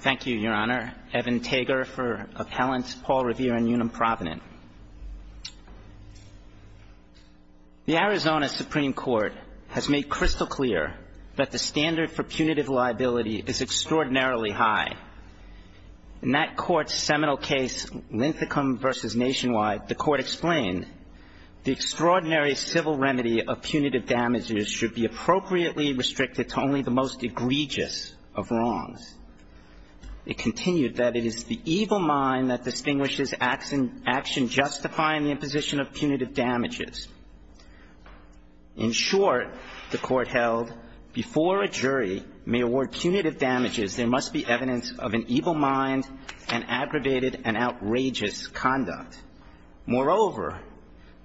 Thank you, Your Honor. Evan Tager for Appellants Paul Revere and Unum Provenant. The Arizona Supreme Court has made crystal clear that the standard for punitive liability is extraordinarily high. In that court's seminal case, Linthicum v. Nationwide, the court explained, the extraordinary civil remedy of punitive damages should be appropriately restricted to only the most egregious of wrongs. It continued that it is the evil mind that distinguishes action justifying the imposition of punitive damages. In short, the court held, before a jury may award punitive damages, there must be evidence of an evil mind and aggravated and outrageous conduct. Moreover,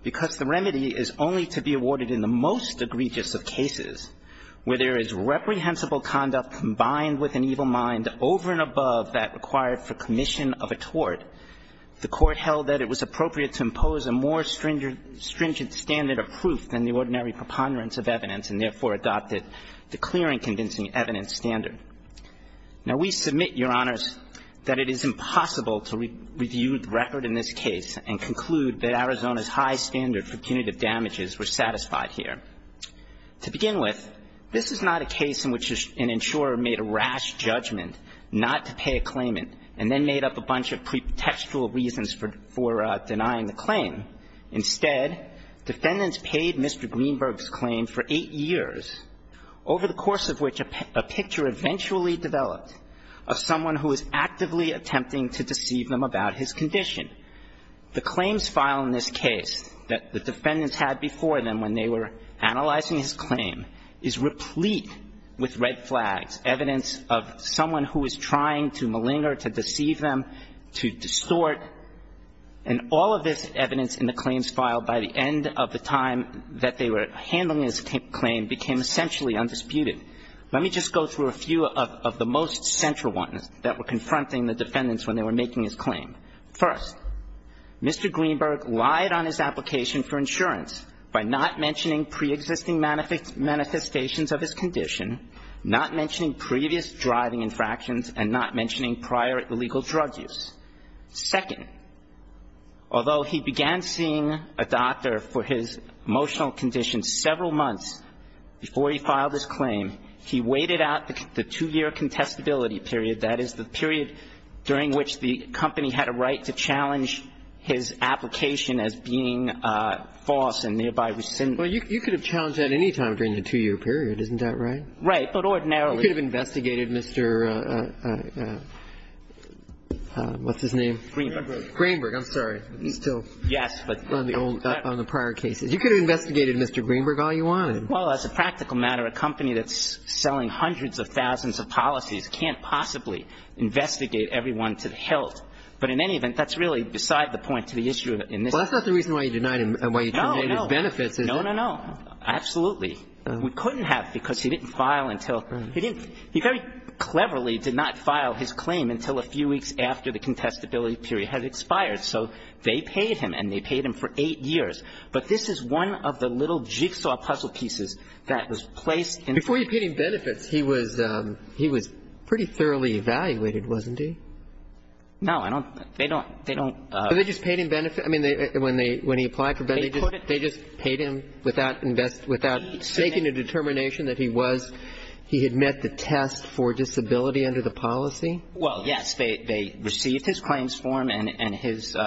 because the remedy is only to be awarded in the most egregious of cases, where there is reprehensible conduct combined with an evil mind over and above that required for commission of a tort, the court held that it was appropriate to impose a more stringent standard of proof than the ordinary preponderance of evidence, and therefore adopted the clear and convincing evidence standard. Now, we submit, Your Honors, that it is impossible to review the record in this case and conclude that Arizona's high standard for punitive damages were satisfied here. To begin with, this is not a case in which an insurer made a rash judgment not to pay a claimant and then made up a bunch of pretextual reasons for denying the claim. Instead, defendants paid Mr. Greenberg's claim for 8 years, over the course of which a picture eventually developed of someone who was actively attempting to deceive them about his condition. The claims file in this case that the defendants had before them when they were analyzing his claim is replete with red flags, evidence of someone who was trying to malinger, to deceive them, to distort. And all of this evidence in the claims file by the end of the time that they were handling his claim became essentially undisputed. Let me just go through a few of the most central ones that were confronting the defendants when they were making his claim. First, Mr. Greenberg lied on his application for insurance by not mentioning preexisting manifestations of his condition, not mentioning previous driving infractions and not mentioning prior illegal drug use. Second, although he began seeing a doctor for his emotional condition several months before he filed his claim, he waited out the 2-year contestability period, that is, the period during which the company had a right to challenge his application as being false and thereby rescinded. Well, you could have challenged that any time during the 2-year period. Isn't that right? Right, but ordinarily. You could have investigated Mr. What's-his-name? Greenberg. Greenberg. Greenberg. I'm sorry. He's still on the prior cases. You could have investigated Mr. Greenberg all you wanted. Well, as a practical matter, a company that's selling hundreds of thousands of policies can't possibly investigate everyone to the hilt. But in any event, that's really beside the point to the issue in this case. Well, that's not the reason why you denied him and why you terminated his benefits, is it? No, no, no. Absolutely. We couldn't have because he didn't file until he didn't. He very cleverly did not file his claim until a few weeks after the contestability period had expired. So they paid him, and they paid him for 8 years. But this is one of the little jigsaw puzzle pieces that was placed in the case. Before you paid him benefits, he was pretty thoroughly evaluated, wasn't he? No. They don't. They don't. But they just paid him benefits. I mean, when he applied for benefits, they just paid him without making a determination that he was he had met the test for disability under the policy? Well, yes. They received his claims form and his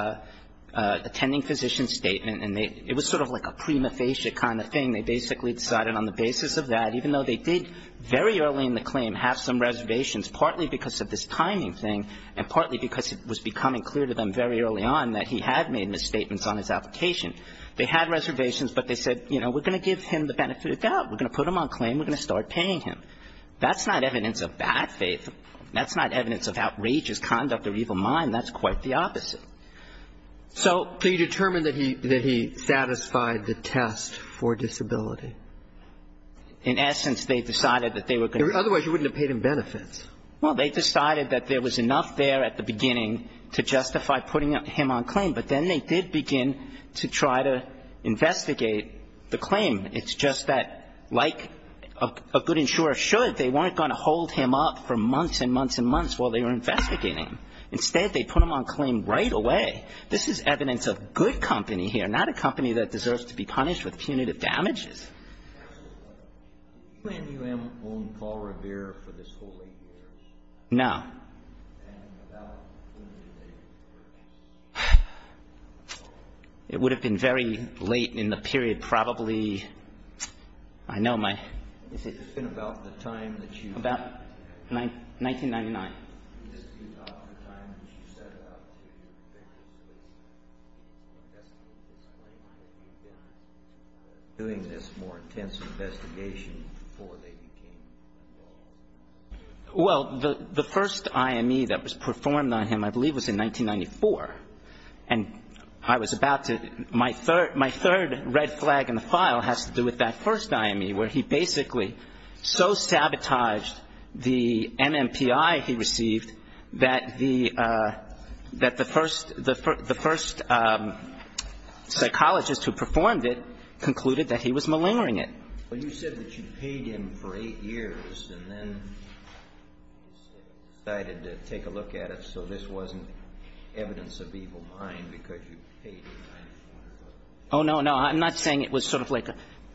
attending physician statement, and it was sort of like a prima facie kind of thing. They basically decided on the basis of that, even though they did very early in the claim have some reservations, partly because of this timing thing and partly because it was becoming clear to them very early on that he had made misstatements on his application. They had reservations, but they said, you know, we're going to give him the benefit of the doubt. We're going to put him on claim. We're going to start paying him. That's not evidence of bad faith. That's not evidence of outrageous conduct or evil mind. That's quite the opposite. So you determined that he satisfied the test for disability? In essence, they decided that they were going to Otherwise you wouldn't have paid him benefits. Well, they decided that there was enough there at the beginning to justify putting him on claim. But then they did begin to try to investigate the claim. It's just that, like a good insurer should, they weren't going to hold him up for months and months and months while they were investigating him. Instead, they put him on claim right away. This is evidence of good company here, not a company that deserves to be punished with punitive damages. Do you plan to own Paul Revere for this whole eight years? No. And without punitive damages? It would have been very late in the period, probably. I know my It's been about the time that you About 1999. This is about the time that you set out to investigate this more intense investigation before they became involved. Well, the first IME that was performed on him, I believe, was in 1994. And I was about to My third red flag in the file has to do with that first IME where he basically so sabotaged the MMPI he received that the first psychologist who performed it concluded that he was malingering it. Well, you said that you paid him for eight years and then decided to take a look at it so this wasn't evidence of evil mind because you paid him. Oh, no, no. I'm not saying it was sort of like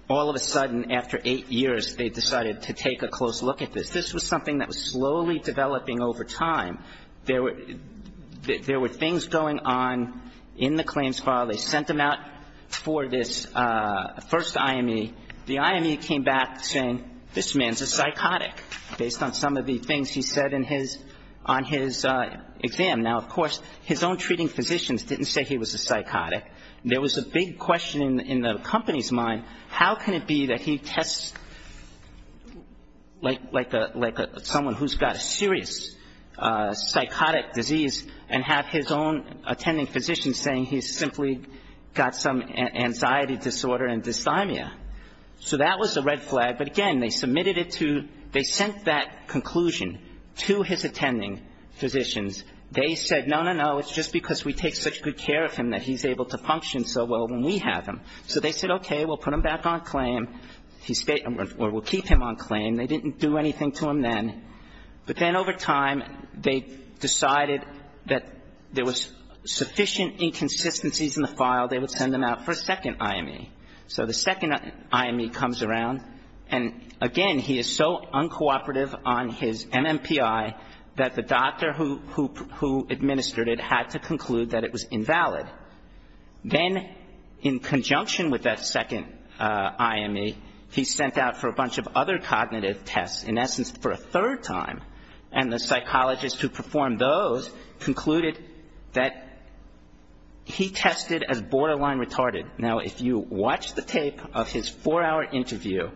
all of a sudden after eight years they decided to take a close look at this. This was something that was slowly developing over time. There were things going on in the claims file. They sent them out for this first IME. The IME came back saying this man's a psychotic based on some of the things he said on his exam. Now, of course, his own treating physicians didn't say he was a psychotic. There was a big question in the company's mind. How can it be that he tests like someone who's got a serious psychotic disease and have his own attending physician saying he's simply got some anxiety disorder and dysthymia. So that was the red flag. But, again, they submitted it to they sent that conclusion to his attending physicians. They said, no, no, no, it's just because we take such good care of him that he's able to function so well when we have him. So they said, okay, we'll put him back on claim or we'll keep him on claim. They didn't do anything to him then. But then over time, they decided that there was sufficient inconsistencies in the file. They would send him out for a second IME. So the second IME comes around. And, again, he is so uncooperative on his MMPI that the doctor who administered it had to conclude that it was invalid. Then in conjunction with that second IME, he's sent out for a bunch of other cognitive tests. In essence, for a third time. And the psychologist who performed those concluded that he tested as borderline retarded. Now, if you watch the tape of his four-hour interview,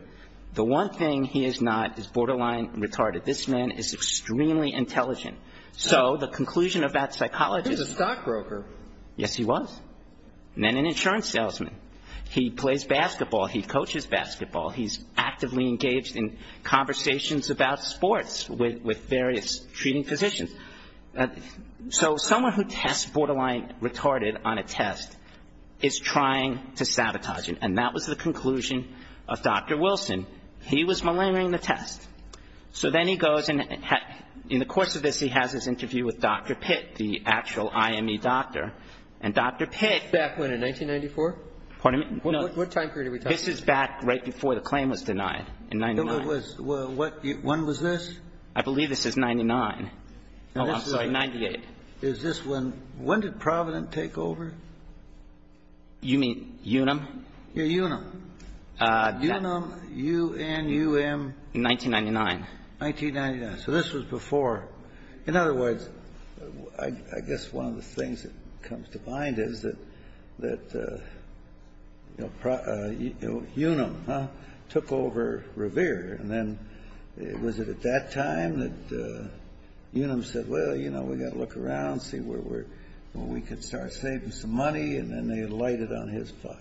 the one thing he is not is borderline retarded. This man is extremely intelligent. So the conclusion of that psychologist. He was a stockbroker. Yes, he was. And then an insurance salesman. He plays basketball. He coaches basketball. He's actively engaged in conversations about sports with various treating physicians. So someone who tests borderline retarded on a test is trying to sabotage it. And that was the conclusion of Dr. Wilson. He was maligning the test. So then he goes and in the course of this, he has his interview with Dr. Pitt, the actual IME doctor. And Dr. Pitt. Back when? In 1994? Pardon me? What time period are we talking about? This is back right before the claim was denied in 99. When was this? I believe this is 99. Oh, I'm sorry. 98. Is this when? When did Provident take over? You mean UNUM? Yeah, UNUM. UNUM, U-N-U-M. 1999. 1999. So this was before. In other words, I guess one of the things that comes to mind is that, you know, UNUM, huh, took over Revere. And then was it at that time that UNUM said, well, you know, we've got to look around, see where we're going. We could start saving some money. And then they lighted on his file.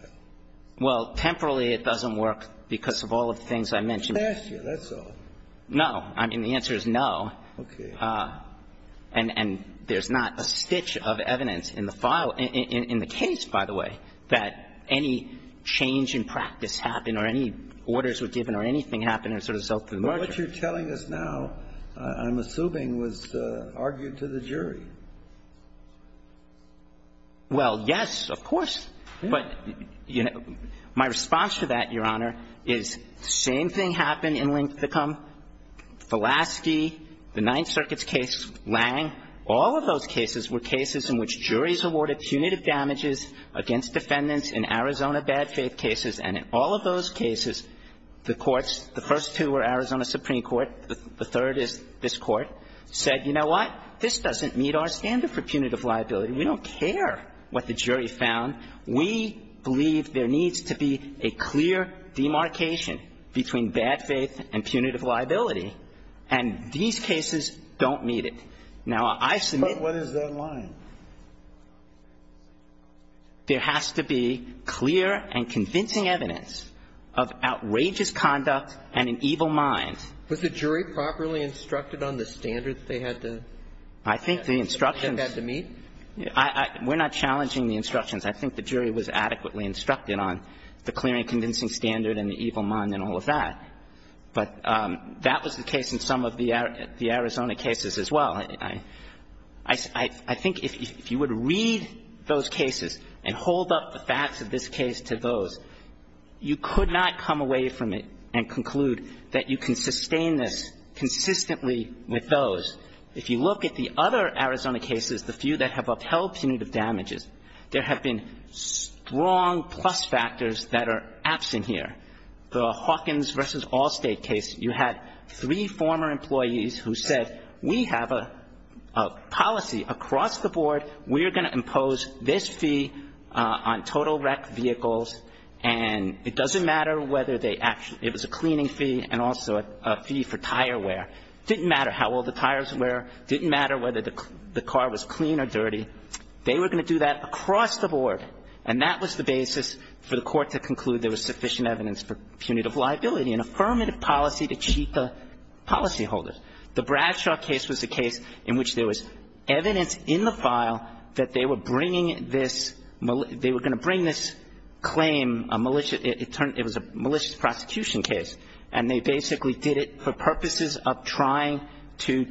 Well, temporarily it doesn't work because of all of the things I mentioned. That's all. No. I mean, the answer is no. Okay. And there's not a stitch of evidence in the file, in the case, by the way, that any change in practice happened or any orders were given or anything happened as a result of the merger. But what you're telling us now, I'm assuming, was argued to the jury. Well, yes, of course. But, you know, my response to that, Your Honor, is the same thing happened in Linthicum. Velasky, the Ninth Circuit's case, Lange, all of those cases were cases in which juries awarded punitive damages against defendants in Arizona bad faith cases. And in all of those cases, the courts, the first two were Arizona Supreme Court. The third is this Court, said, you know what? This doesn't meet our standard for punitive liability. We don't care what the jury found. We believe there needs to be a clear demarcation between bad faith and punitive liability. And these cases don't meet it. Now, I submit to you. But what is that line? There has to be clear and convincing evidence of outrageous conduct and an evil mind. Was the jury properly instructed on the standards they had to meet? I think the instructions to meet? We're not challenging the instructions. I think the jury was adequately instructed on the clear and convincing standard and the evil mind and all of that. But that was the case in some of the Arizona cases as well. I think if you would read those cases and hold up the facts of this case to those, you could not come away from it and conclude that you can sustain this consistently with those. If you look at the other Arizona cases, the few that have upheld punitive damages, there have been strong plus factors that are absent here. The Hawkins v. Allstate case, you had three former employees who said, we have a policy across the board. We are going to impose this fee on total wrecked vehicles. And it doesn't matter whether they actually – it was a cleaning fee and also a fee for tire wear. It didn't matter how old the tires were. It didn't matter whether the car was clean or dirty. They were going to do that across the board. And that was the basis for the Court to conclude there was sufficient evidence for punitive liability and affirmative policy to cheat the policyholders. The Bradshaw case was a case in which there was evidence in the file that they were bringing this – they were going to bring this claim – it was a malicious prosecution case. And they basically did it for purposes of trying to –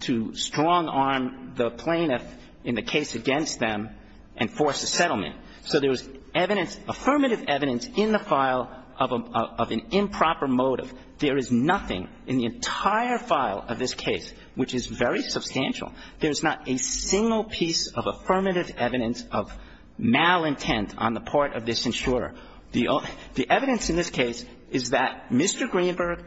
to strong-arm the plaintiff in the case against them and force a settlement. So there was evidence, affirmative evidence, in the file of an improper motive. There is nothing in the entire file of this case which is very substantial. There is not a single piece of affirmative evidence of malintent on the part of this insurer. The evidence in this case is that Mr. Greenberg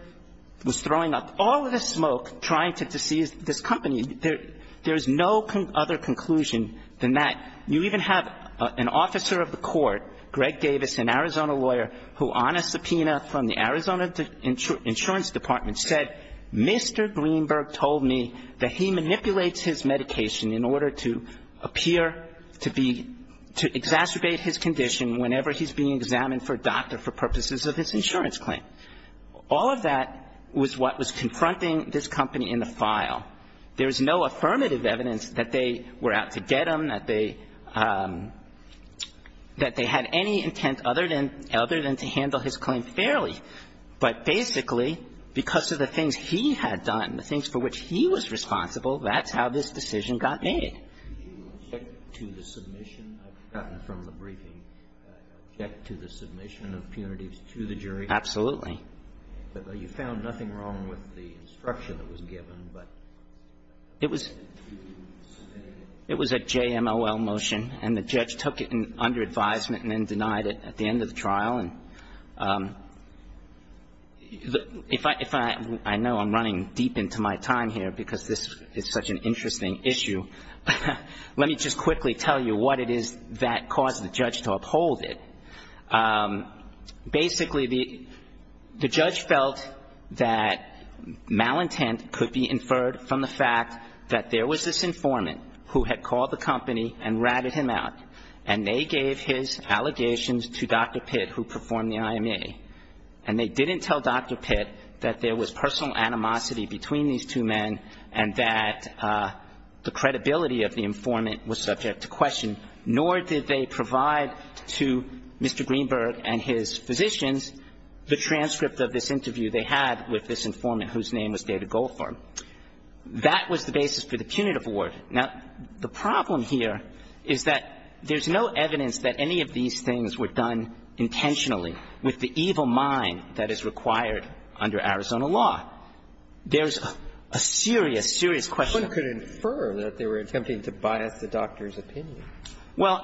was throwing up all of the smoke trying to deceive this company. There is no other conclusion than that. You even have an officer of the court, Greg Davis, an Arizona lawyer, who on a subpoena from the Arizona Insurance Department said, Mr. Greenberg told me that he manipulates his medication in order to appear to be – to exacerbate his condition whenever he's being examined for doctor for purposes of his insurance claim. All of that was what was confronting this company in the file. There is no affirmative evidence that they were out to get him, that they – that they had any intent other than – other than to handle his claim fairly. But basically, because of the things he had done, the things for which he was responsible, that's how this decision got made. Do you object to the submission? I've forgotten from the briefing. Do you object to the submission of punitives to the jury? Absolutely. But you found nothing wrong with the instruction that was given, but you didn't submit it. It was a JMOL motion, and the judge took it under advisement and then denied it at the end of the trial. And if I – I know I'm running deep into my time here because this is such an interesting issue, let me just quickly tell you what it is that caused the judge to uphold it. Basically, the judge felt that malintent could be inferred from the fact that there was this informant who had called the company and ratted him out, and they gave his allegations to Dr. Pitt, who performed the IMA. And they didn't tell Dr. Pitt that there was personal animosity between these two men and that the credibility of the informant was subject to question, nor did they provide to Mr. Greenberg and his physicians the transcript of this interview they had with this informant whose name was David Goldfarb. That was the basis for the punitive award. Now, the problem here is that there's no evidence that any of these things were done intentionally with the evil mind that is required under Arizona law. There's a serious, serious question. One could infer that they were attempting to bias the doctor's opinion. Well,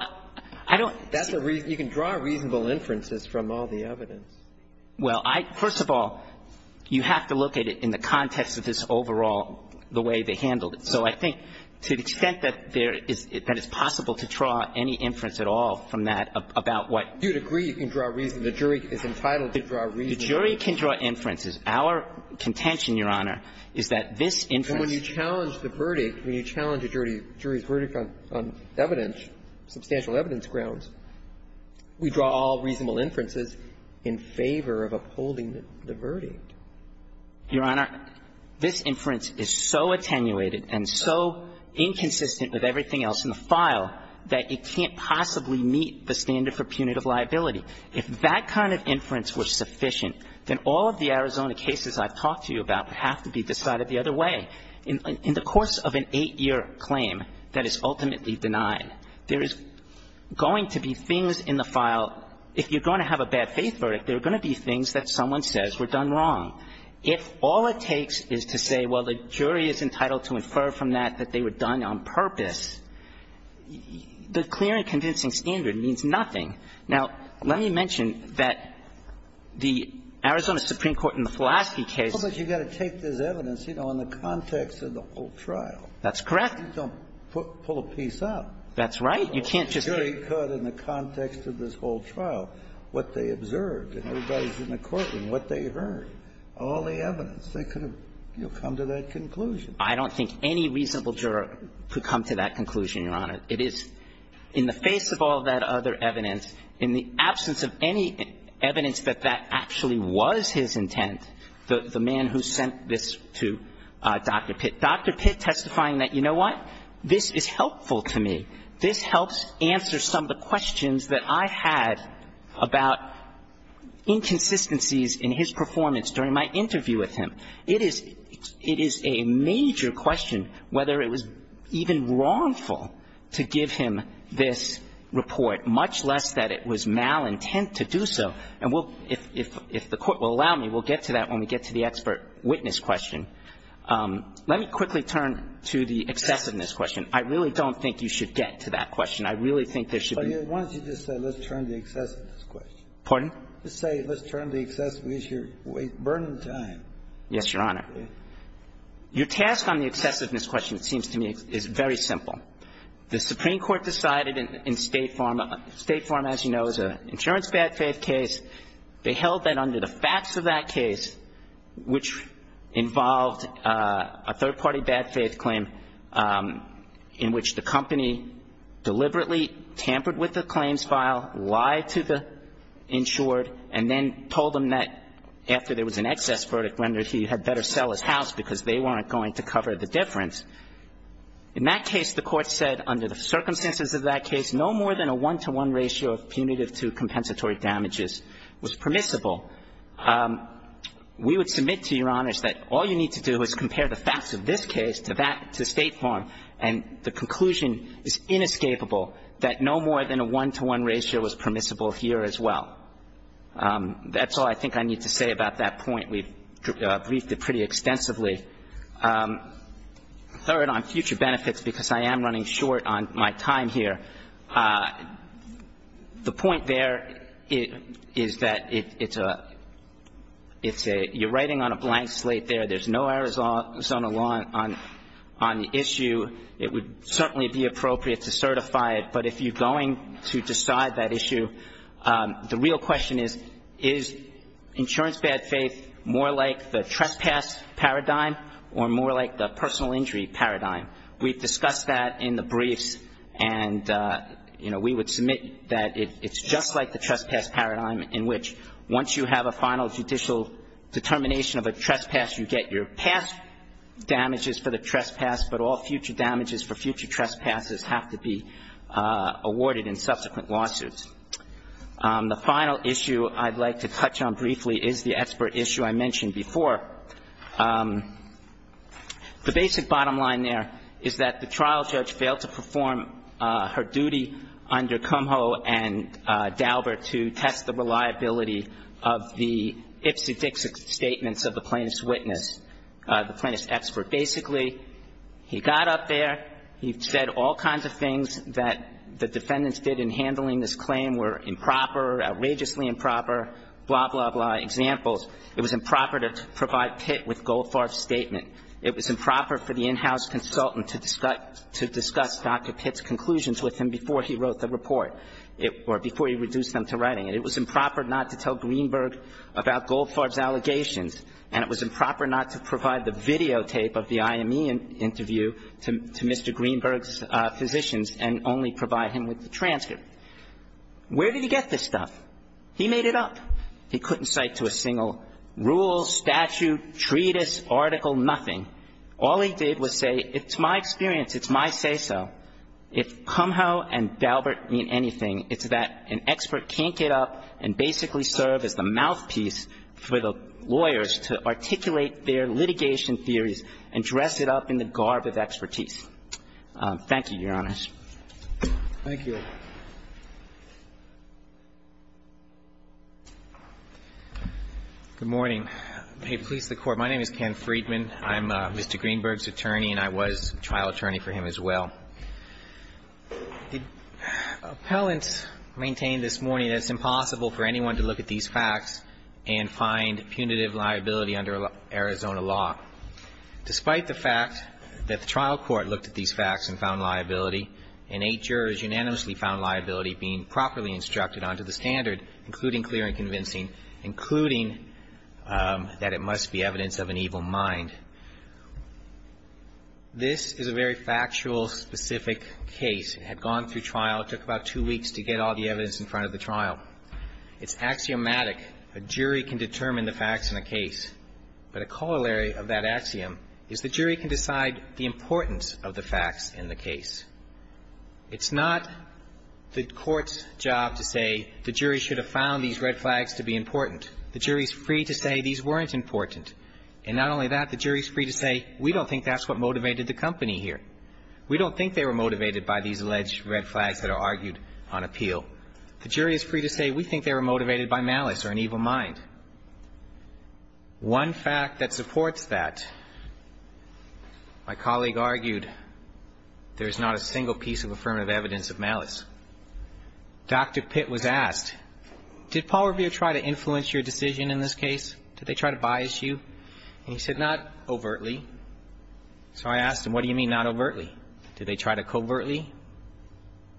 I don't – That's a reason – you can draw reasonable inferences from all the evidence. Well, I – first of all, you have to look at it in the context of this overall the way they handled it. So I think to the extent that there is – that it's possible to draw any inference at all from that about what – You'd agree you can draw – the jury is entitled to draw reasons. The jury can draw inferences. Our contention, Your Honor, is that this inference – But when you challenge the verdict, when you challenge a jury's verdict on evidence, substantial evidence grounds, we draw all reasonable inferences in favor of upholding the verdict. Your Honor, this inference is so attenuated and so inconsistent with everything else in the file that it can't possibly meet the standard for punitive liability. If that kind of inference were sufficient, then all of the Arizona cases I've talked to you about would have to be decided the other way. In the course of an eight-year claim that is ultimately denied, there is going to be things in the file – if you're going to have a bad faith verdict, there are going to be things that someone says were done wrong. If all it takes is to say, well, the jury is entitled to infer from that that they were done on purpose, the clear and convincing standard means nothing. Now, let me mention that the Arizona Supreme Court in the Fulaski case – But you've got to take this evidence, you know, in the context of the whole trial. That's correct. You don't pull a piece out. That's right. You can't just take – In the context of this whole trial, what they observed and everybody's in the courtroom, what they heard, all the evidence. They could have, you know, come to that conclusion. I don't think any reasonable juror could come to that conclusion, Your Honor. It is in the face of all that other evidence, in the absence of any evidence that that actually was his intent, the man who sent this to Dr. Pitt. Dr. Pitt testifying that, you know what, this is helpful to me. This helps answer some of the questions that I had about inconsistencies in his performance during my interview with him. It is – it is a major question whether it was even wrongful to give him this report, much less that it was malintent to do so. And we'll – if the Court will allow me, we'll get to that when we get to the expert witness question. Let me quickly turn to the excessiveness question. I really don't think you should get to that question. I really think there should be – Why don't you just say let's turn to the excessiveness question. Pardon? Just say let's turn to the excessiveness issue. We're burning time. Yes, Your Honor. Your task on the excessiveness question, it seems to me, is very simple. The Supreme Court decided in State Farm – State Farm, as you know, is an insurance bad faith case. They held that under the facts of that case, which involved a third-party bad faith claim in which the company deliberately tampered with the claims file, lied to the house because they weren't going to cover the difference. In that case, the Court said under the circumstances of that case, no more than a one-to-one ratio of punitive to compensatory damages was permissible. We would submit to Your Honors that all you need to do is compare the facts of this case to that – to State Farm, and the conclusion is inescapable that no more than a one-to-one ratio was permissible here as well. That's all I think I need to say about that point. We've briefed it pretty extensively. Third, on future benefits, because I am running short on my time here, the point there is that it's a – you're writing on a blank slate there. There's no Arizona law on the issue. It would certainly be appropriate to certify it, but if you're going to decide that more like the trespass paradigm or more like the personal injury paradigm. We've discussed that in the briefs, and we would submit that it's just like the trespass paradigm in which once you have a final judicial determination of a trespass, you get your past damages for the trespass, but all future damages for future trespasses have to be awarded in subsequent lawsuits. The final issue I'd like to touch on briefly is the expert issue I mentioned before. The basic bottom line there is that the trial judge failed to perform her duty under Kumho and Daubert to test the reliability of the ipsedixic statements of the plaintiff's witness, the plaintiff's expert. Basically, he got up there, he said all kinds of things that the defendants did in his claim were improper, outrageously improper, blah, blah, blah, examples. It was improper to provide Pitt with Goldfarb's statement. It was improper for the in-house consultant to discuss Dr. Pitt's conclusions with him before he wrote the report or before he reduced them to writing. It was improper not to tell Greenberg about Goldfarb's allegations, and it was improper not to provide the videotape of the IME interview to Mr. Greenberg's physicians and only provide him with the transcript. Where did he get this stuff? He made it up. He couldn't cite to a single rule, statute, treatise, article, nothing. All he did was say it's my experience, it's my say-so. If Kumho and Daubert mean anything, it's that an expert can't get up and basically serve as the mouthpiece for the lawyers to articulate their litigation theories and dress it up in the garb of expertise. Thank you, Your Honors. Thank you. Good morning. May it please the Court. My name is Ken Friedman. I'm Mr. Greenberg's attorney, and I was a trial attorney for him as well. The appellant maintained this morning that it's impossible for anyone to look at these facts and find punitive liability under Arizona law. Despite the fact that the trial court looked at these facts and found liability and eight jurors unanimously found liability being properly instructed onto the standard, including clear and convincing, including that it must be evidence of an evil mind, this is a very factual, specific case. It had gone through trial. It took about two weeks to get all the evidence in front of the trial. It's axiomatic. A jury can determine the facts in a case, but a corollary of that axiom is the jury can decide the importance of the facts in the case. It's not the court's job to say the jury should have found these red flags to be important. The jury is free to say these weren't important. And not only that, the jury is free to say we don't think that's what motivated the company here. We don't think they were motivated by these alleged red flags that are argued on appeal. The jury is free to say we think they were motivated by malice or an evil mind. One fact that supports that, my colleague argued, there's not a single piece of affirmative evidence of malice. Dr. Pitt was asked, did Paul Revere try to influence your decision in this case? Did they try to bias you? And he said, not overtly. So I asked him, what do you mean not overtly? Did they try to covertly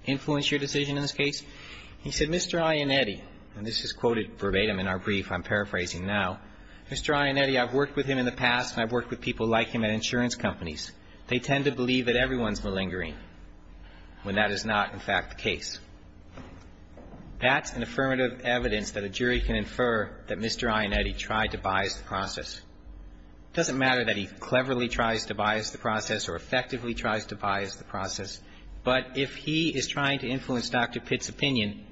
influence your decision in this case? He said, Mr. Iannetti, and this is quoted verbatim in our brief, I'm paraphrasing now, Mr. Iannetti, I've worked with him in the past and I've worked with people like him at insurance companies. They tend to believe that everyone's malingering when that is not, in fact, the case. That's an affirmative evidence that a jury can infer that Mr. Iannetti tried to bias the process. It doesn't matter that he cleverly tries to bias the process or effectively tries to bias the process. But if he is trying to influence Dr. Pitt's opinion,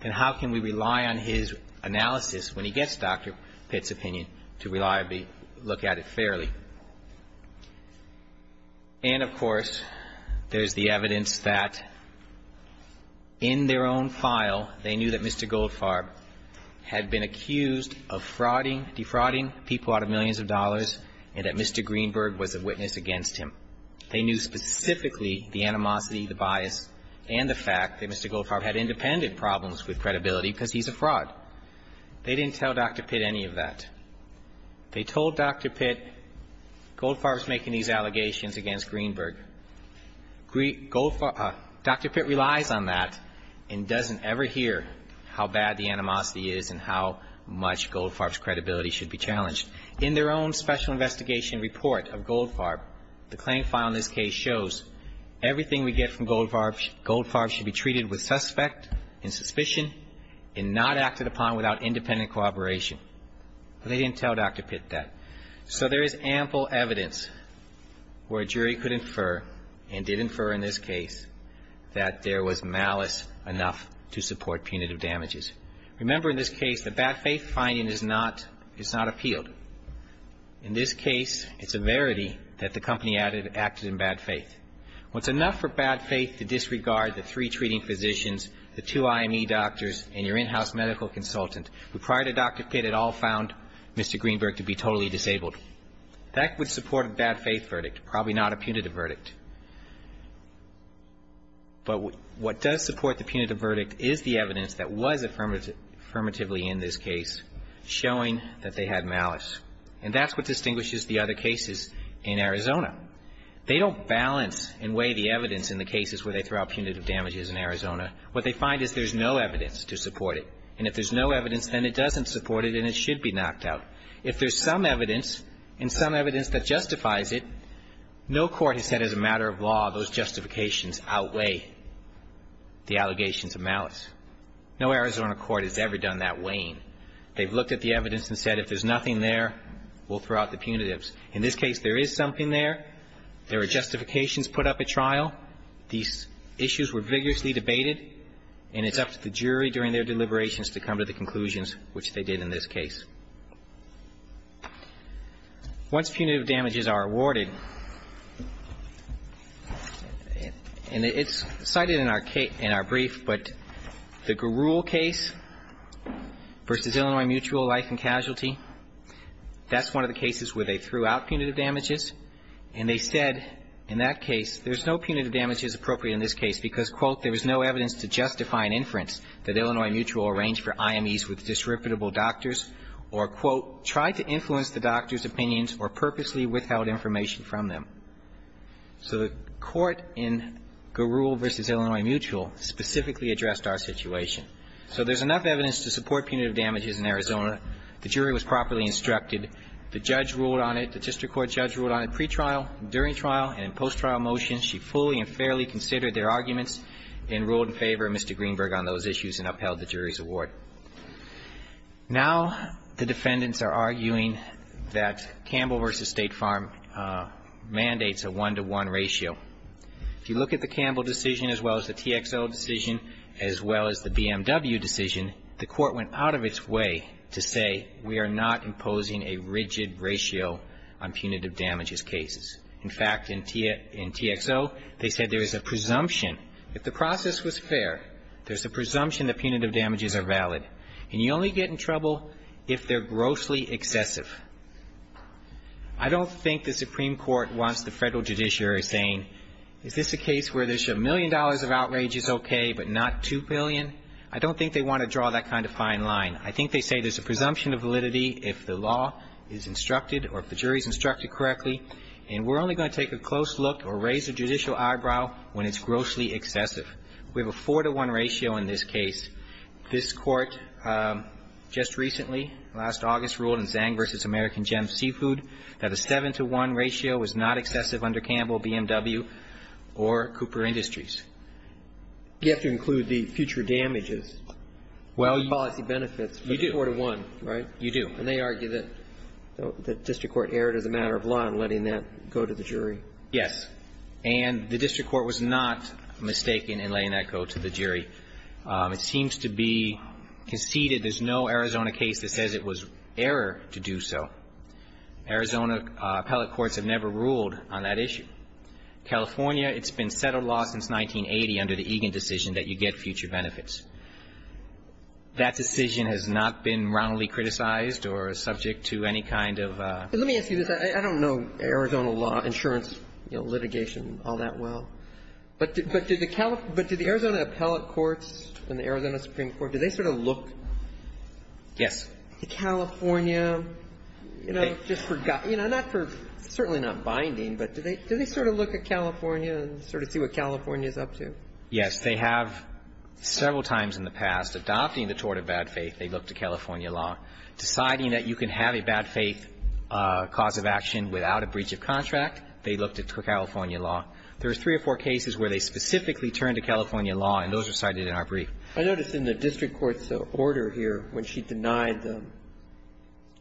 then how can we rely on his analysis when he gets Dr. Pitt's opinion to reliably look at it fairly? And, of course, there's the evidence that in their own file, they knew that Mr. Goldfarb had been accused of defrauding people out of millions of dollars and that Mr. Greenberg was a witness against him. They knew specifically the animosity, the bias, and the fact that Mr. Goldfarb had independent problems with credibility because he's a fraud. They didn't tell Dr. Pitt any of that. They told Dr. Pitt, Goldfarb's making these allegations against Greenberg. Dr. Pitt relies on that and doesn't ever hear how bad the animosity is and how much Goldfarb's credibility should be challenged. In their own special investigation report of Goldfarb, the claim file in this case shows everything we get from Goldfarb, Goldfarb should be treated with suspect and suspicion and not acted upon without independent cooperation. But they didn't tell Dr. Pitt that. So there is ample evidence where a jury could infer and did infer in this case that there was malice enough to support punitive damages. Remember in this case, the bad faith finding is not appealed. In this case, it's a verity that the company acted in bad faith. It's enough for bad faith to disregard the three treating physicians, the two IME doctors and your in-house medical consultant who prior to Dr. Pitt had all found Mr. Greenberg to be totally disabled. That would support a bad faith verdict, probably not a punitive verdict. But what does support the punitive verdict is the evidence that was affirmatively in this case showing that they had malice. And that's what distinguishes the other cases in Arizona. They don't balance and weigh the evidence in the cases where they throw out punitive damages in Arizona. What they find is there's no evidence to support it. And if there's no evidence, then it doesn't support it and it should be knocked out. If there's some evidence and some evidence that justifies it, no court has had as a matter of law those justifications outweigh the allegations of malice. No Arizona court has ever done that weighing. They've looked at the evidence and said if there's nothing there, we'll throw out the punitives. In this case, there is something there. There are justifications put up at trial. These issues were vigorously debated. And it's up to the jury during their deliberations to come to the conclusions, which they did in this case. Once punitive damages are awarded, and it's cited in our brief, but the Garul case versus Illinois Mutual Life and Casualty, that's one of the cases where they threw out punitive damages. And they said in that case, there's no punitive damage as appropriate in this case because, quote, there was no evidence to justify an inference that Illinois Mutual arranged for IMEs with disreputable doctors, or there was no evidence to justify or, quote, tried to influence the doctor's opinions or purposely withheld information from them. So the court in Garul versus Illinois Mutual specifically addressed our situation. So there's enough evidence to support punitive damages in Arizona. The jury was properly instructed. The judge ruled on it. The district court judge ruled on it pre-trial, during trial, and in post-trial motions. She fully and fairly considered their arguments and ruled in favor of Mr. Greenberg on those issues and upheld the jury's award. Now the defendants are arguing that Campbell versus State Farm mandates a one-to-one ratio. If you look at the Campbell decision as well as the TXO decision as well as the BMW decision, the court went out of its way to say we are not imposing a rigid ratio on punitive damages cases. In fact, in TXO, they said there is a presumption. If the process was fair, there's a presumption that punitive damages are valid. And you only get in trouble if they're grossly excessive. I don't think the Supreme Court wants the federal judiciary saying, is this a case where there's a million dollars of outrage is okay, but not two billion? I don't think they want to draw that kind of fine line. I think they say there's a presumption of validity if the law is instructed or if the jury is instructed correctly. And we're only going to take a close look or raise a judicial eyebrow when it's not. But I think it's fair to say that it's not excessive. We have a four-to-one ratio in this case. This Court just recently, last August, ruled in Zhang versus American Gem Seafood that a seven-to-one ratio was not excessive under Campbell, BMW or Cooper Industries. You have to include the future damages. Well, you do. Policy benefits, but four-to-one, right? You do. And they argue that the District Court erred as a matter of law in letting that go to the jury. It seems to be conceded there's no Arizona case that says it was error to do so. Arizona appellate courts have never ruled on that issue. California, it's been settled law since 1980 under the Egan decision that you get future benefits. That decision has not been roundly criticized or subject to any kind of a ---- But let me ask you this. I don't know Arizona law, insurance, you know, litigation all that well. But did the California ---- but did the Arizona appellate courts and the Arizona Supreme Court, did they sort of look to California, you know, just for ---- you know, not for ---- certainly not binding, but did they sort of look at California and sort of see what California is up to? Yes. They have several times in the past. Adopting the tort of bad faith, they looked at California law. Deciding that you can have a bad faith cause of action without a breach of contract, they looked at California law. There are three or four cases where they specifically turned to California law, and those are cited in our brief. I notice in the district court's order here, when she denied the ----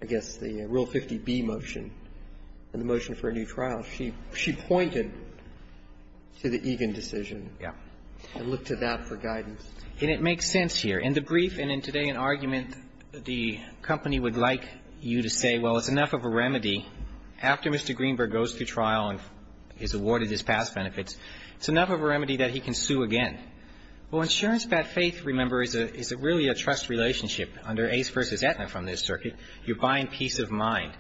I guess the Rule 50B motion and the motion for a new trial, she pointed to the Egan decision. Yes. And looked to that for guidance. And it makes sense here. In the brief and in today's argument, the company would like you to say, well, it's enough of a remedy that he can sue again. Well, insurance bad faith, remember, is really a trust relationship. Under Ace v. Aetna from this circuit, you're buying peace of mind.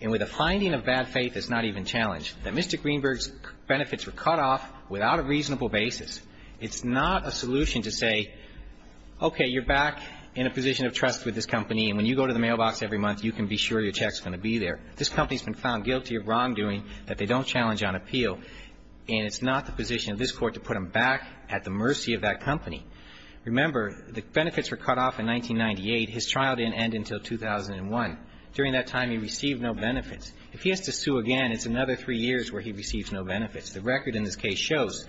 And with a finding of bad faith that's not even challenged, that Mr. Greenberg's benefits were cut off without a reasonable basis, it's not a solution to say, okay, you're back in a position of trust with this company, and when you go to the mailbox every month, you can be sure your check's going to be there. This company's been found guilty of wrongdoing that they don't challenge on appeal. And it's not the position of this Court to put them back at the mercy of that company. Remember, the benefits were cut off in 1998. His trial didn't end until 2001. During that time, he received no benefits. If he has to sue again, it's another three years where he receives no benefits. The record in this case shows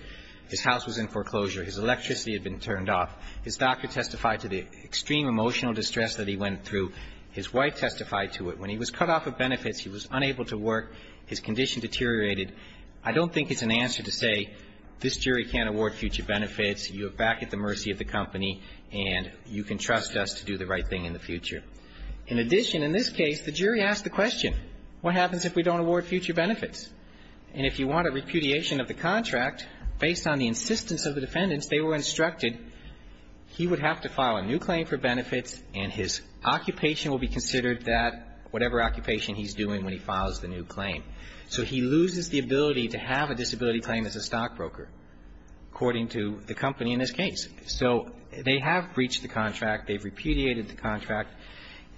his house was in foreclosure. His electricity had been turned off. His doctor testified to the extreme emotional distress that he went through. His wife testified to it. When he was cut off of benefits, he was unable to work. His condition deteriorated. I don't think it's an answer to say this jury can't award future benefits. You're back at the mercy of the company, and you can trust us to do the right thing in the future. In addition, in this case, the jury asked the question, what happens if we don't award future benefits? And if you want a repudiation of the contract, based on the insistence of the defendants, they were instructed he would have to file a new claim for benefits, and his occupation will be considered that whatever occupation he's doing when he files the new claim. So he loses the ability to have a disability claim as a stockbroker, according to the company in this case. So they have breached the contract, they've repudiated the contract,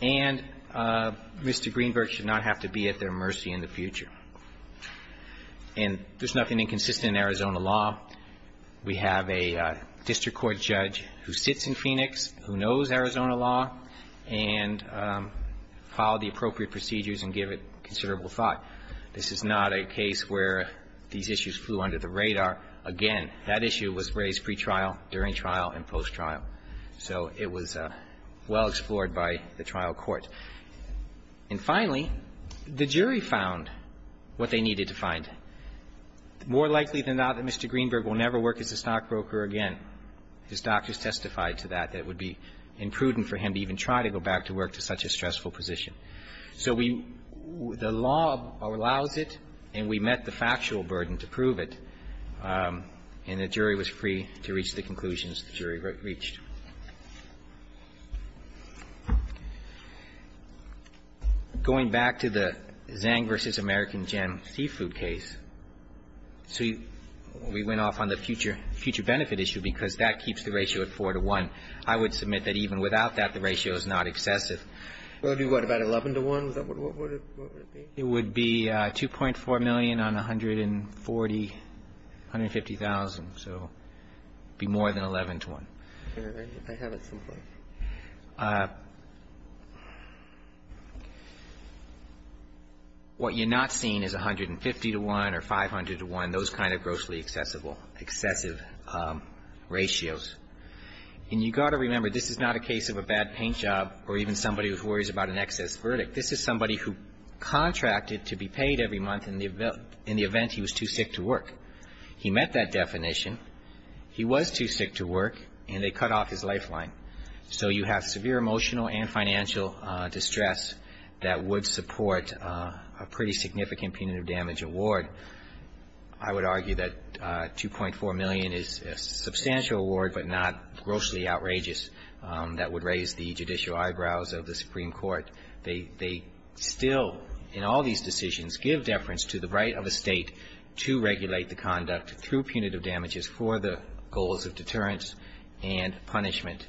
and Mr. Greenberg should not have to be at their mercy in the future. And there's nothing inconsistent in Arizona law. We have a district court judge who sits in Phoenix, who knows Arizona law, and filed the appropriate procedures and give it considerable thought. This is not a case where these issues flew under the radar. Again, that issue was raised pretrial, during trial, and post-trial. So it was well explored by the trial court. And finally, the jury found what they needed to find. More likely than not that Mr. Greenberg will never work as a stockbroker again. His doctors testified to that, that it would be imprudent for him to even try to go back to work to such a stressful position. So we – the law allows it, and we met the factual burden to prove it, and the jury was free to reach the conclusions the jury reached. Going back to the Zang v. American Gem seafood case, so we went off on the future benefit issue because that keeps the ratio at 4 to 1. I would submit that even without that, the ratio is not excessive. It would be what, about 11 to 1? What would it be? It would be $2.4 million on $140,000, $150,000. So it would be more than 11 to 1. I have it someplace. What you're not seeing is 150 to 1 or 500 to 1, those kind of grossly excessive ratios. And you've got to remember, this is not a case of a bad paint job or even somebody who worries about an excess verdict. This is somebody who contracted to be paid every month in the event he was too sick to work. He met that definition. He was too sick to work, and they cut off his lifeline. So you have severe emotional and financial distress that would support a pretty significant punitive damage award. I would argue that $2.4 million is a substantial award but not grossly outrageous that would raise the judicial eyebrows of the Supreme Court. They still, in all these decisions, give deference to the right of a State to regulate the conduct through punitive damages for the goals of deterrence and punishment.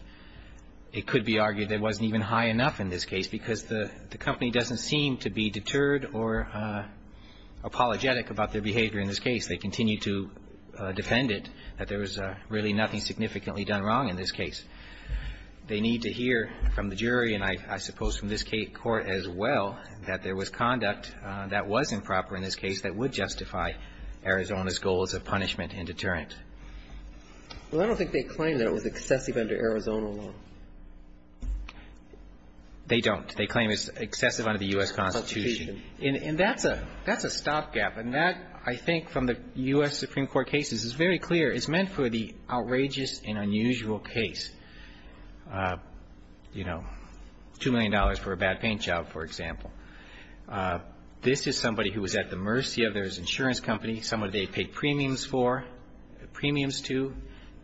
It could be argued it wasn't even high enough in this case because the company doesn't seem to be deterred or apologetic about their behavior in this case. They continue to defend it, that there was really nothing significantly done wrong in this case. They need to hear from the jury and I suppose from this Court as well that there was conduct that was improper in this case that would justify Arizona's goals of punishment and deterrent. Well, I don't think they claim that it was excessive under Arizona law. They don't. They claim it's excessive under the U.S. Constitution. And that's a stopgap. And that, I think, from the U.S. Supreme Court cases, is very clear. It's meant for the outrageous and unusual case. You know, $2 million for a bad paint job, for example. This is somebody who was at the mercy of their insurance company, someone they paid premiums for, premiums to,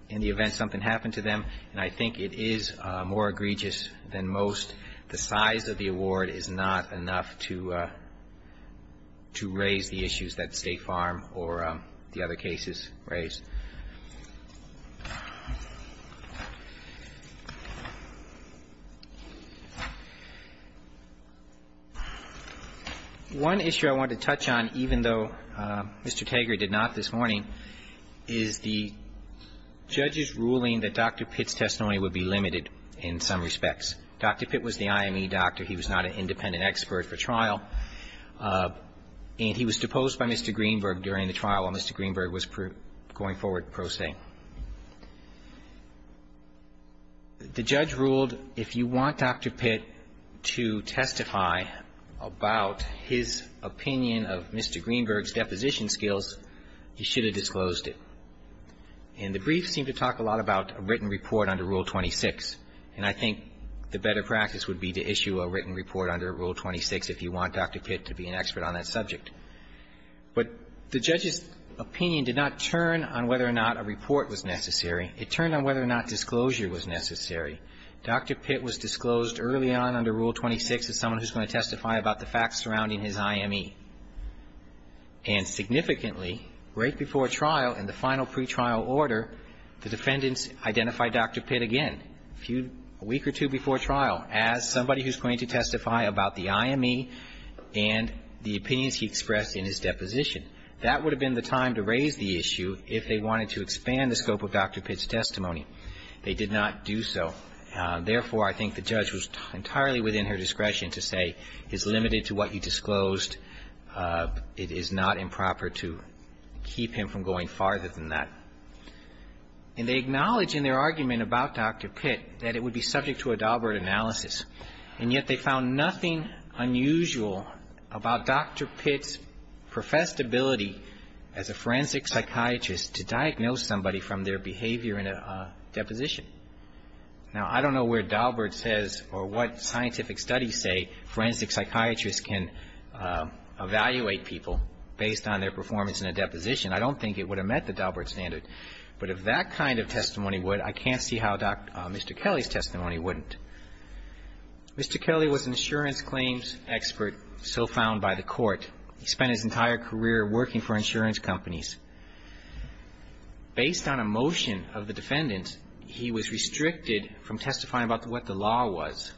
in the event something happened to them. And I think it is more egregious than most. The size of the award is not enough to raise the issues that State Farm or the other cases raise. One issue I wanted to touch on, even though Mr. Tagere did not this morning, is the limited in some respects. Dr. Pitt was the IME doctor. He was not an independent expert for trial. And he was deposed by Mr. Greenberg during the trial while Mr. Greenberg was going forward pro se. The judge ruled if you want Dr. Pitt to testify about his opinion of Mr. Greenberg's deposition skills, he should have disclosed it. And the brief seemed to talk a lot about a written report under Rule 26. And I think the better practice would be to issue a written report under Rule 26 if you want Dr. Pitt to be an expert on that subject. But the judge's opinion did not turn on whether or not a report was necessary. It turned on whether or not disclosure was necessary. Dr. Pitt was disclosed early on under Rule 26 as someone who's going to testify about the facts surrounding his IME. And significantly, right before trial in the final pretrial order, the defendants identified Dr. Pitt again, a week or two before trial, as somebody who's going to testify about the IME and the opinions he expressed in his deposition. That would have been the time to raise the issue if they wanted to expand the scope of Dr. Pitt's testimony. They did not do so. Therefore, I think the judge was entirely within her discretion to say it's limited to what you disclosed. It is not improper to keep him from going farther than that. And they acknowledged in their argument about Dr. Pitt that it would be subject to a Daubert analysis. And yet they found nothing unusual about Dr. Pitt's professed ability as a forensic psychiatrist to diagnose somebody from their behavior in a deposition. Now, I don't know where Daubert says or what scientific studies say forensic psychiatrists can evaluate people based on their performance in a deposition. I don't think it would have met the Daubert standard. But if that kind of testimony would, I can't see how Mr. Kelly's testimony wouldn't. Mr. Kelly was an insurance claims expert so found by the court. He spent his entire career working for insurance companies. Based on a motion of the defendants, he was restricted from testifying about what the law was.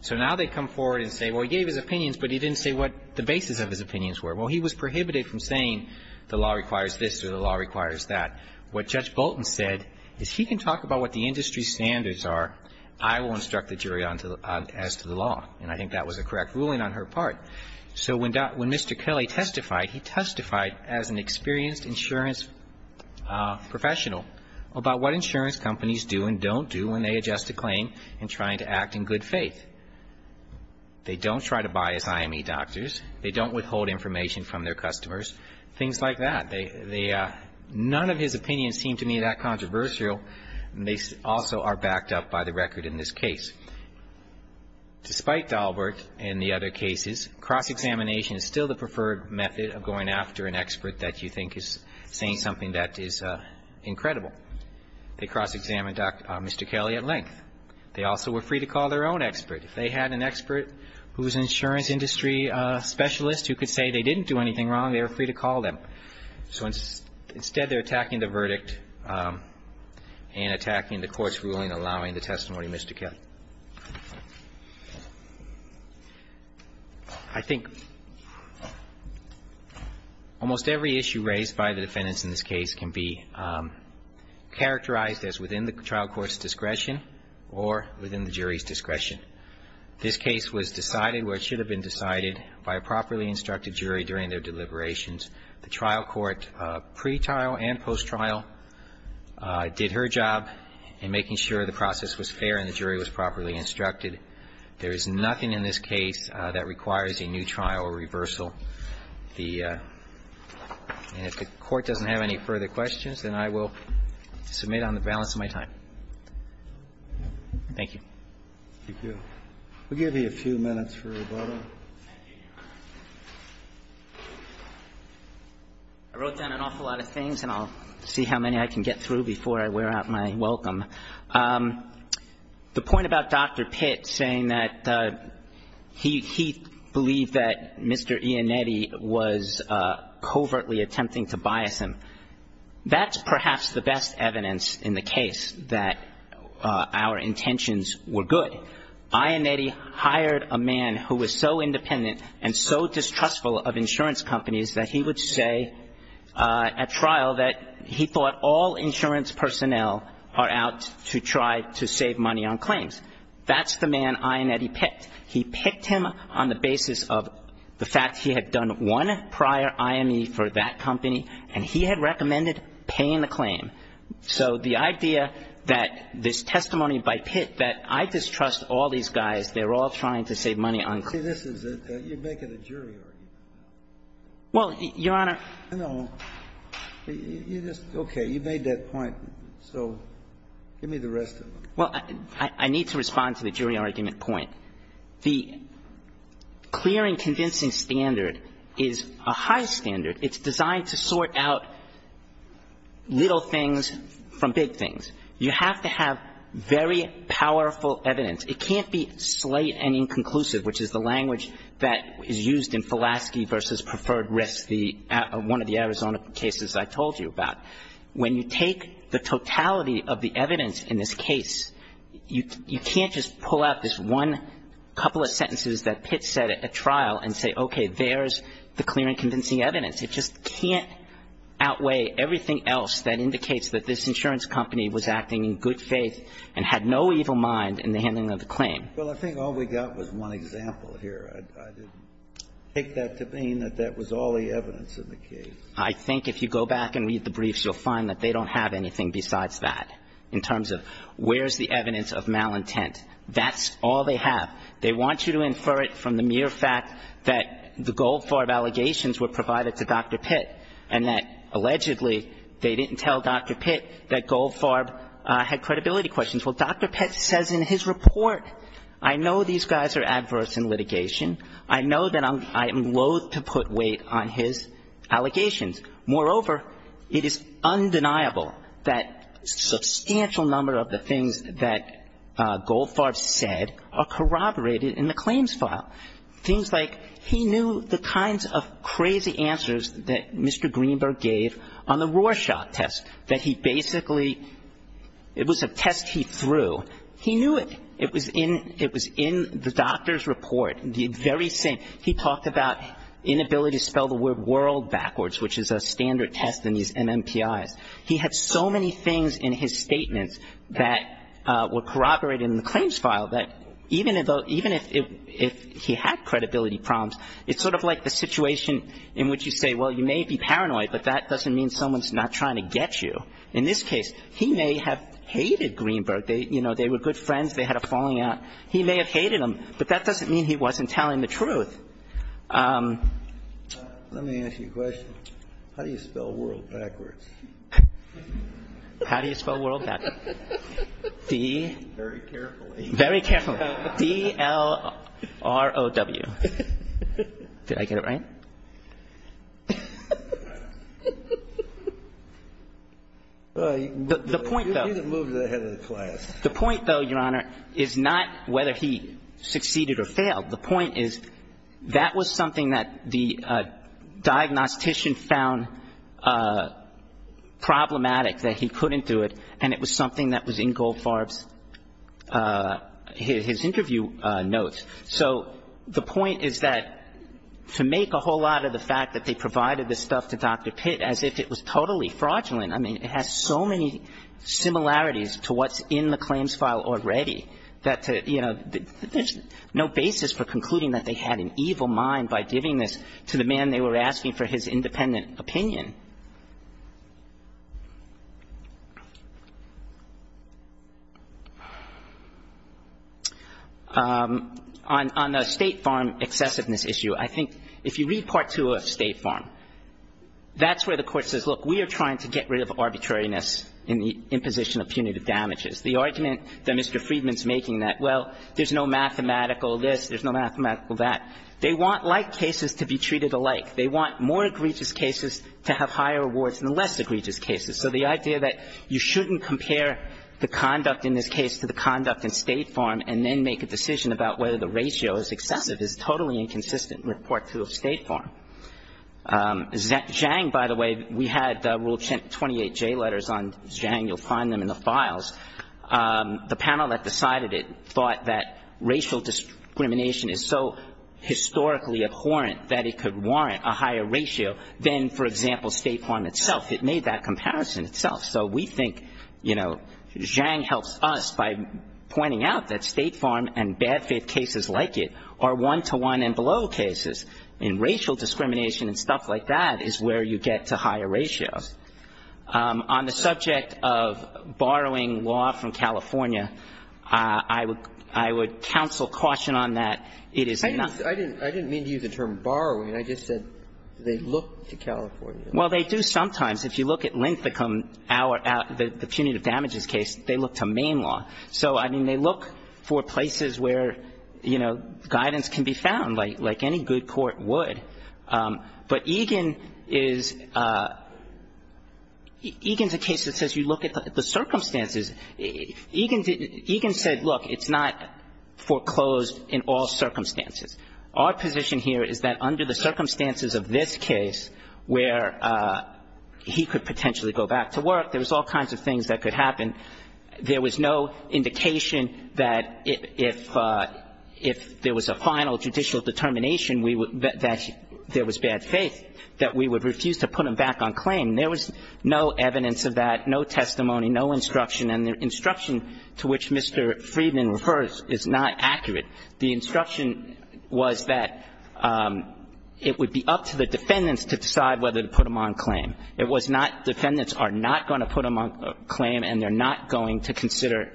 So now they come forward and say, well, he gave his opinions, but he didn't say what the basis of his opinions were. Well, he was prohibited from saying the law requires this or the law requires that. What Judge Bolton said is he can talk about what the industry standards are. I will instruct the jury as to the law. And I think that was a correct ruling on her part. So when Mr. Kelly testified, he testified as an experienced insurance professional about what insurance companies do and don't do when they adjust a claim in trying to act in good faith. They don't try to bias IME doctors. They don't withhold information from their customers. Things like that. None of his opinions seem to me that controversial. They also are backed up by the record in this case. Despite Daubert and the other cases, cross-examination is still the preferred method of going after an expert that you think is saying something that is incredible. They cross-examined Mr. Kelly at length. They also were free to call their own expert. If they had an expert who was an insurance industry specialist who could say they didn't do anything wrong, they were free to call them. So instead, they're attacking the verdict and attacking the court's ruling allowing the testimony of Mr. Kelly. I think almost every issue raised by the defendants in this case can be characterized as within the trial court's discretion or within the jury's discretion. This case was decided where it should have been decided by a properly instructed jury during their deliberations. The trial court, pre-trial and post-trial, did her job in making sure the process was fair and the jury was properly instructed. There is nothing in this case that requires a new trial or reversal. And if the Court doesn't have any further questions, then I will submit on the balance of my time. Thank you. Thank you. We'll give you a few minutes for rebuttal. I wrote down an awful lot of things, and I'll see how many I can get through before I wear out my welcome. The point about Dr. Pitt saying that he believed that Mr. Iannetti was covertly attempting to bias him, that's perhaps the best evidence in the case that our intentions were good. Iannetti hired a man who was so independent and so distrustful of insurance companies that he would say at trial that he thought all insurance personnel are out to try to save money on claims. That's the man Iannetti picked. He picked him on the basis of the fact he had done one prior IME for that company and he had recommended paying the claim. So the idea that this testimony by Pitt that I distrust all these guys, they're all trying to save money on claims. See, this is a – you're making a jury argument. Well, Your Honor – No. You just – okay. You made that point. So give me the rest of it. Well, I need to respond to the jury argument point. The clear and convincing standard is a high standard. It's designed to sort out little things from big things. You have to have very powerful evidence. It can't be slate and inconclusive, which is the language that is used in Fulaski v. Preferred Risk, one of the Arizona cases I told you about. When you take the totality of the evidence in this case, you can't just pull out this one couple of sentences that Pitt said at trial and say, okay, there's the clear and convincing evidence. It just can't outweigh everything else that indicates that this insurance company was acting in good faith and had no evil mind in the handling of the claim. Well, I think all we got was one example here. I didn't take that to mean that that was all the evidence in the case. I think if you go back and read the briefs, you'll find that they don't have anything besides that in terms of where's the evidence of malintent. That's all they have. They want you to infer it from the mere fact that the Goldfarb allegations were provided to Dr. Pitt and that, allegedly, they didn't tell Dr. Pitt that Goldfarb had credibility questions. Well, Dr. Pitt says in his report, I know these guys are adverse in litigation. I know that I am loathe to put weight on his allegations. Moreover, it is undeniable that a substantial number of the things that Goldfarb said are corroborated in the claims file. Things like he knew the kinds of crazy answers that Mr. Greenberg gave on the Rorschach test, that he basically, it was a test he threw. He knew it. It was in the doctor's report, the very same. He talked about inability to spell the word world backwards, which is a standard test in these MMPIs. He had so many things in his statements that were corroborated in the claims file, that even if he had credibility problems, it's sort of like the situation in which you say, well, you may be paranoid, but that doesn't mean someone's not trying to get you. In this case, he may have hated Greenberg. You know, they were good friends. They had a falling out. He may have hated him, but that doesn't mean he wasn't telling the truth. Let me ask you a question. How do you spell world backwards? How do you spell world backwards? Very carefully. Very carefully. D-L-R-O-W. Did I get it right? The point, though. You need to move to the head of the class. The point, though, Your Honor, is not whether he succeeded or failed. The point is that was something that the diagnostician found problematic, that he couldn't do it, and it was something that was in Goldfarb's, his interview notes. So the point is that to make a whole lot of the fact that they provided this stuff to Dr. Pitt as if it was totally fraudulent. I mean, it has so many similarities to what's in the claims file already that, you know, there's no basis for concluding that they had an evil mind by giving this to the man they were asking for his independent opinion. On the State Farm excessiveness issue, I think if you read Part 2 of State Farm, that's where the Court says, look, we are trying to get rid of arbitrariness in the imposition of punitive damages. The argument that Mr. Friedman's making that, well, there's no mathematical this, there's no mathematical that, they want like cases to be treated alike. They want more egregious cases to have higher rewards than the less egregious cases. So the idea that you shouldn't compare the conduct in this case to the conduct in State Farm and then make a decision about whether the ratio is excessive is totally inconsistent with Part 2 of State Farm. Zhang, by the way, we had Rule 28J letters on Zhang. You'll find them in the files. The panel that decided it thought that racial discrimination is so historically abhorrent that it could warrant a higher ratio than, for example, State Farm itself. It made that comparison itself. So we think, you know, Zhang helps us by pointing out that State Farm and bad faith cases like it are one-to-one and below cases. And racial discrimination and stuff like that is where you get to higher ratios. On the subject of borrowing law from California, I would counsel caution on that. I didn't mean to use the term borrowing. I just said they look to California. Well, they do sometimes. If you look at Linthicum, the punitive damages case, they look to Maine law. So, I mean, they look for places where, you know, guidance can be found, like any good court would. But Egan is a case that says you look at the circumstances. Egan said, look, it's not foreclosed in all circumstances. Our position here is that under the circumstances of this case where he could potentially go back to work, there was all kinds of things that could happen. There was no indication that if there was a final judicial determination that there was bad faith, that we would refuse to put him back on claim. There was no evidence of that, no testimony, no instruction, and the instruction to which Mr. Friedman refers is not accurate. The instruction was that it would be up to the defendants to decide whether to put him on claim. It was not defendants are not going to put him on claim and they're not going to consider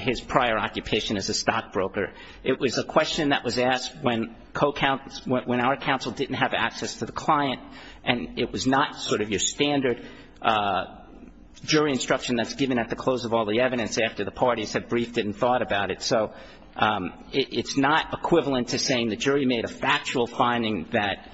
his prior occupation as a stockbroker. It was a question that was asked when our counsel didn't have access to the client, and it was not sort of your standard jury instruction that's given at the close of all the evidence after the parties have briefed it and thought about it. So it's not equivalent to saying the jury made a factual finding that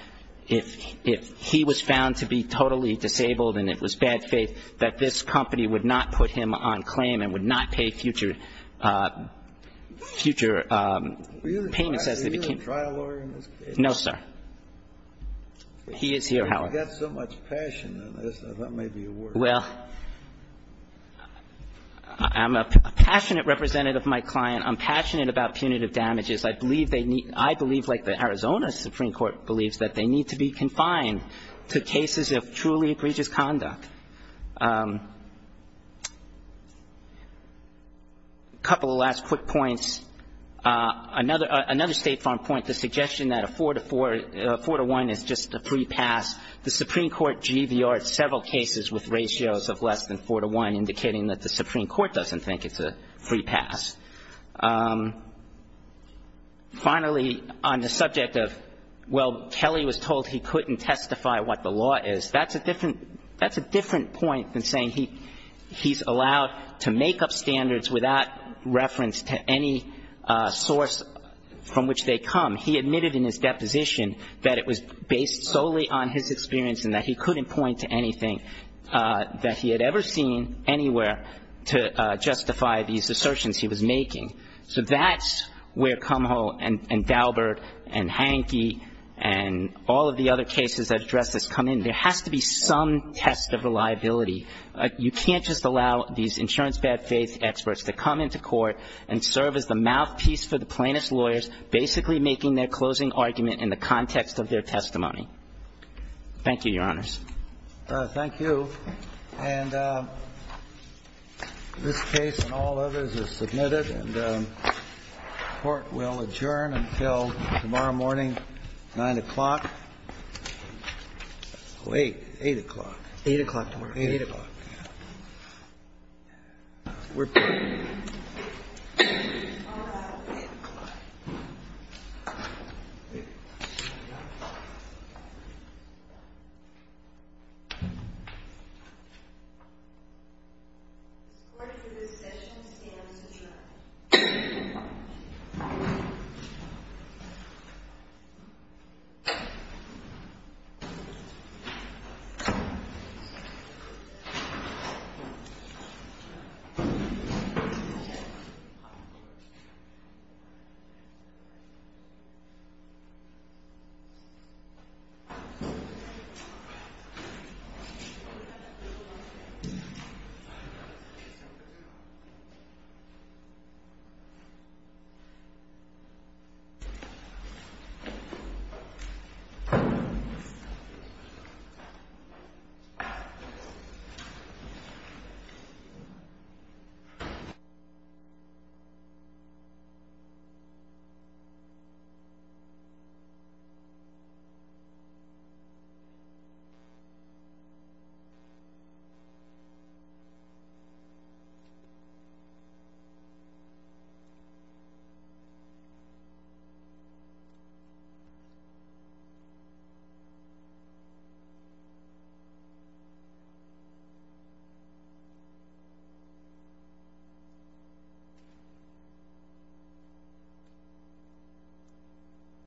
if he was found to be totally disabled and it was bad faith, that this company would not put him on claim and would not pay future payments as they became. Were you the trial lawyer in this case? No, sir. He is here, however. You've got so much passion in this. That may be a word. Well, I'm a passionate representative of my client. I'm passionate about punitive damages. I believe they need to be, I believe like the Arizona Supreme Court believes, that they need to be confined to cases of truly egregious conduct. A couple of last quick points. Another State Farm point, the suggestion that a 4-to-1 is just a free pass. The Supreme Court GVR'd several cases with ratios of less than 4-to-1, indicating that the Supreme Court doesn't think it's a free pass. Finally, on the subject of, well, Kelly was told he couldn't testify what the law is, that's a different point than saying he's allowed to make up standards without reference to any source from which they come. He admitted in his deposition that it was based solely on his experience and that he couldn't point to anything that he had ever seen anywhere to justify these assertions he was making. So that's where Cumhall and Daubert and Hankey and all of the other cases that address this come in. There has to be some test of reliability. You can't just allow these insurance bad faith experts to come into court and serve as the mouthpiece for the plaintiff's lawyers basically making their closing argument in the context of their testimony. Thank you, Your Honors. Thank you. And this case and all others is submitted. And the Court will adjourn until tomorrow morning, 9 o'clock. Wait. 8 o'clock. 8 o'clock tomorrow. 8 o'clock. We're adjourned. All rise for the 8 o'clock. 8 o'clock. The Court for this session stands adjourned. 8 o'clock. 8 o'clock.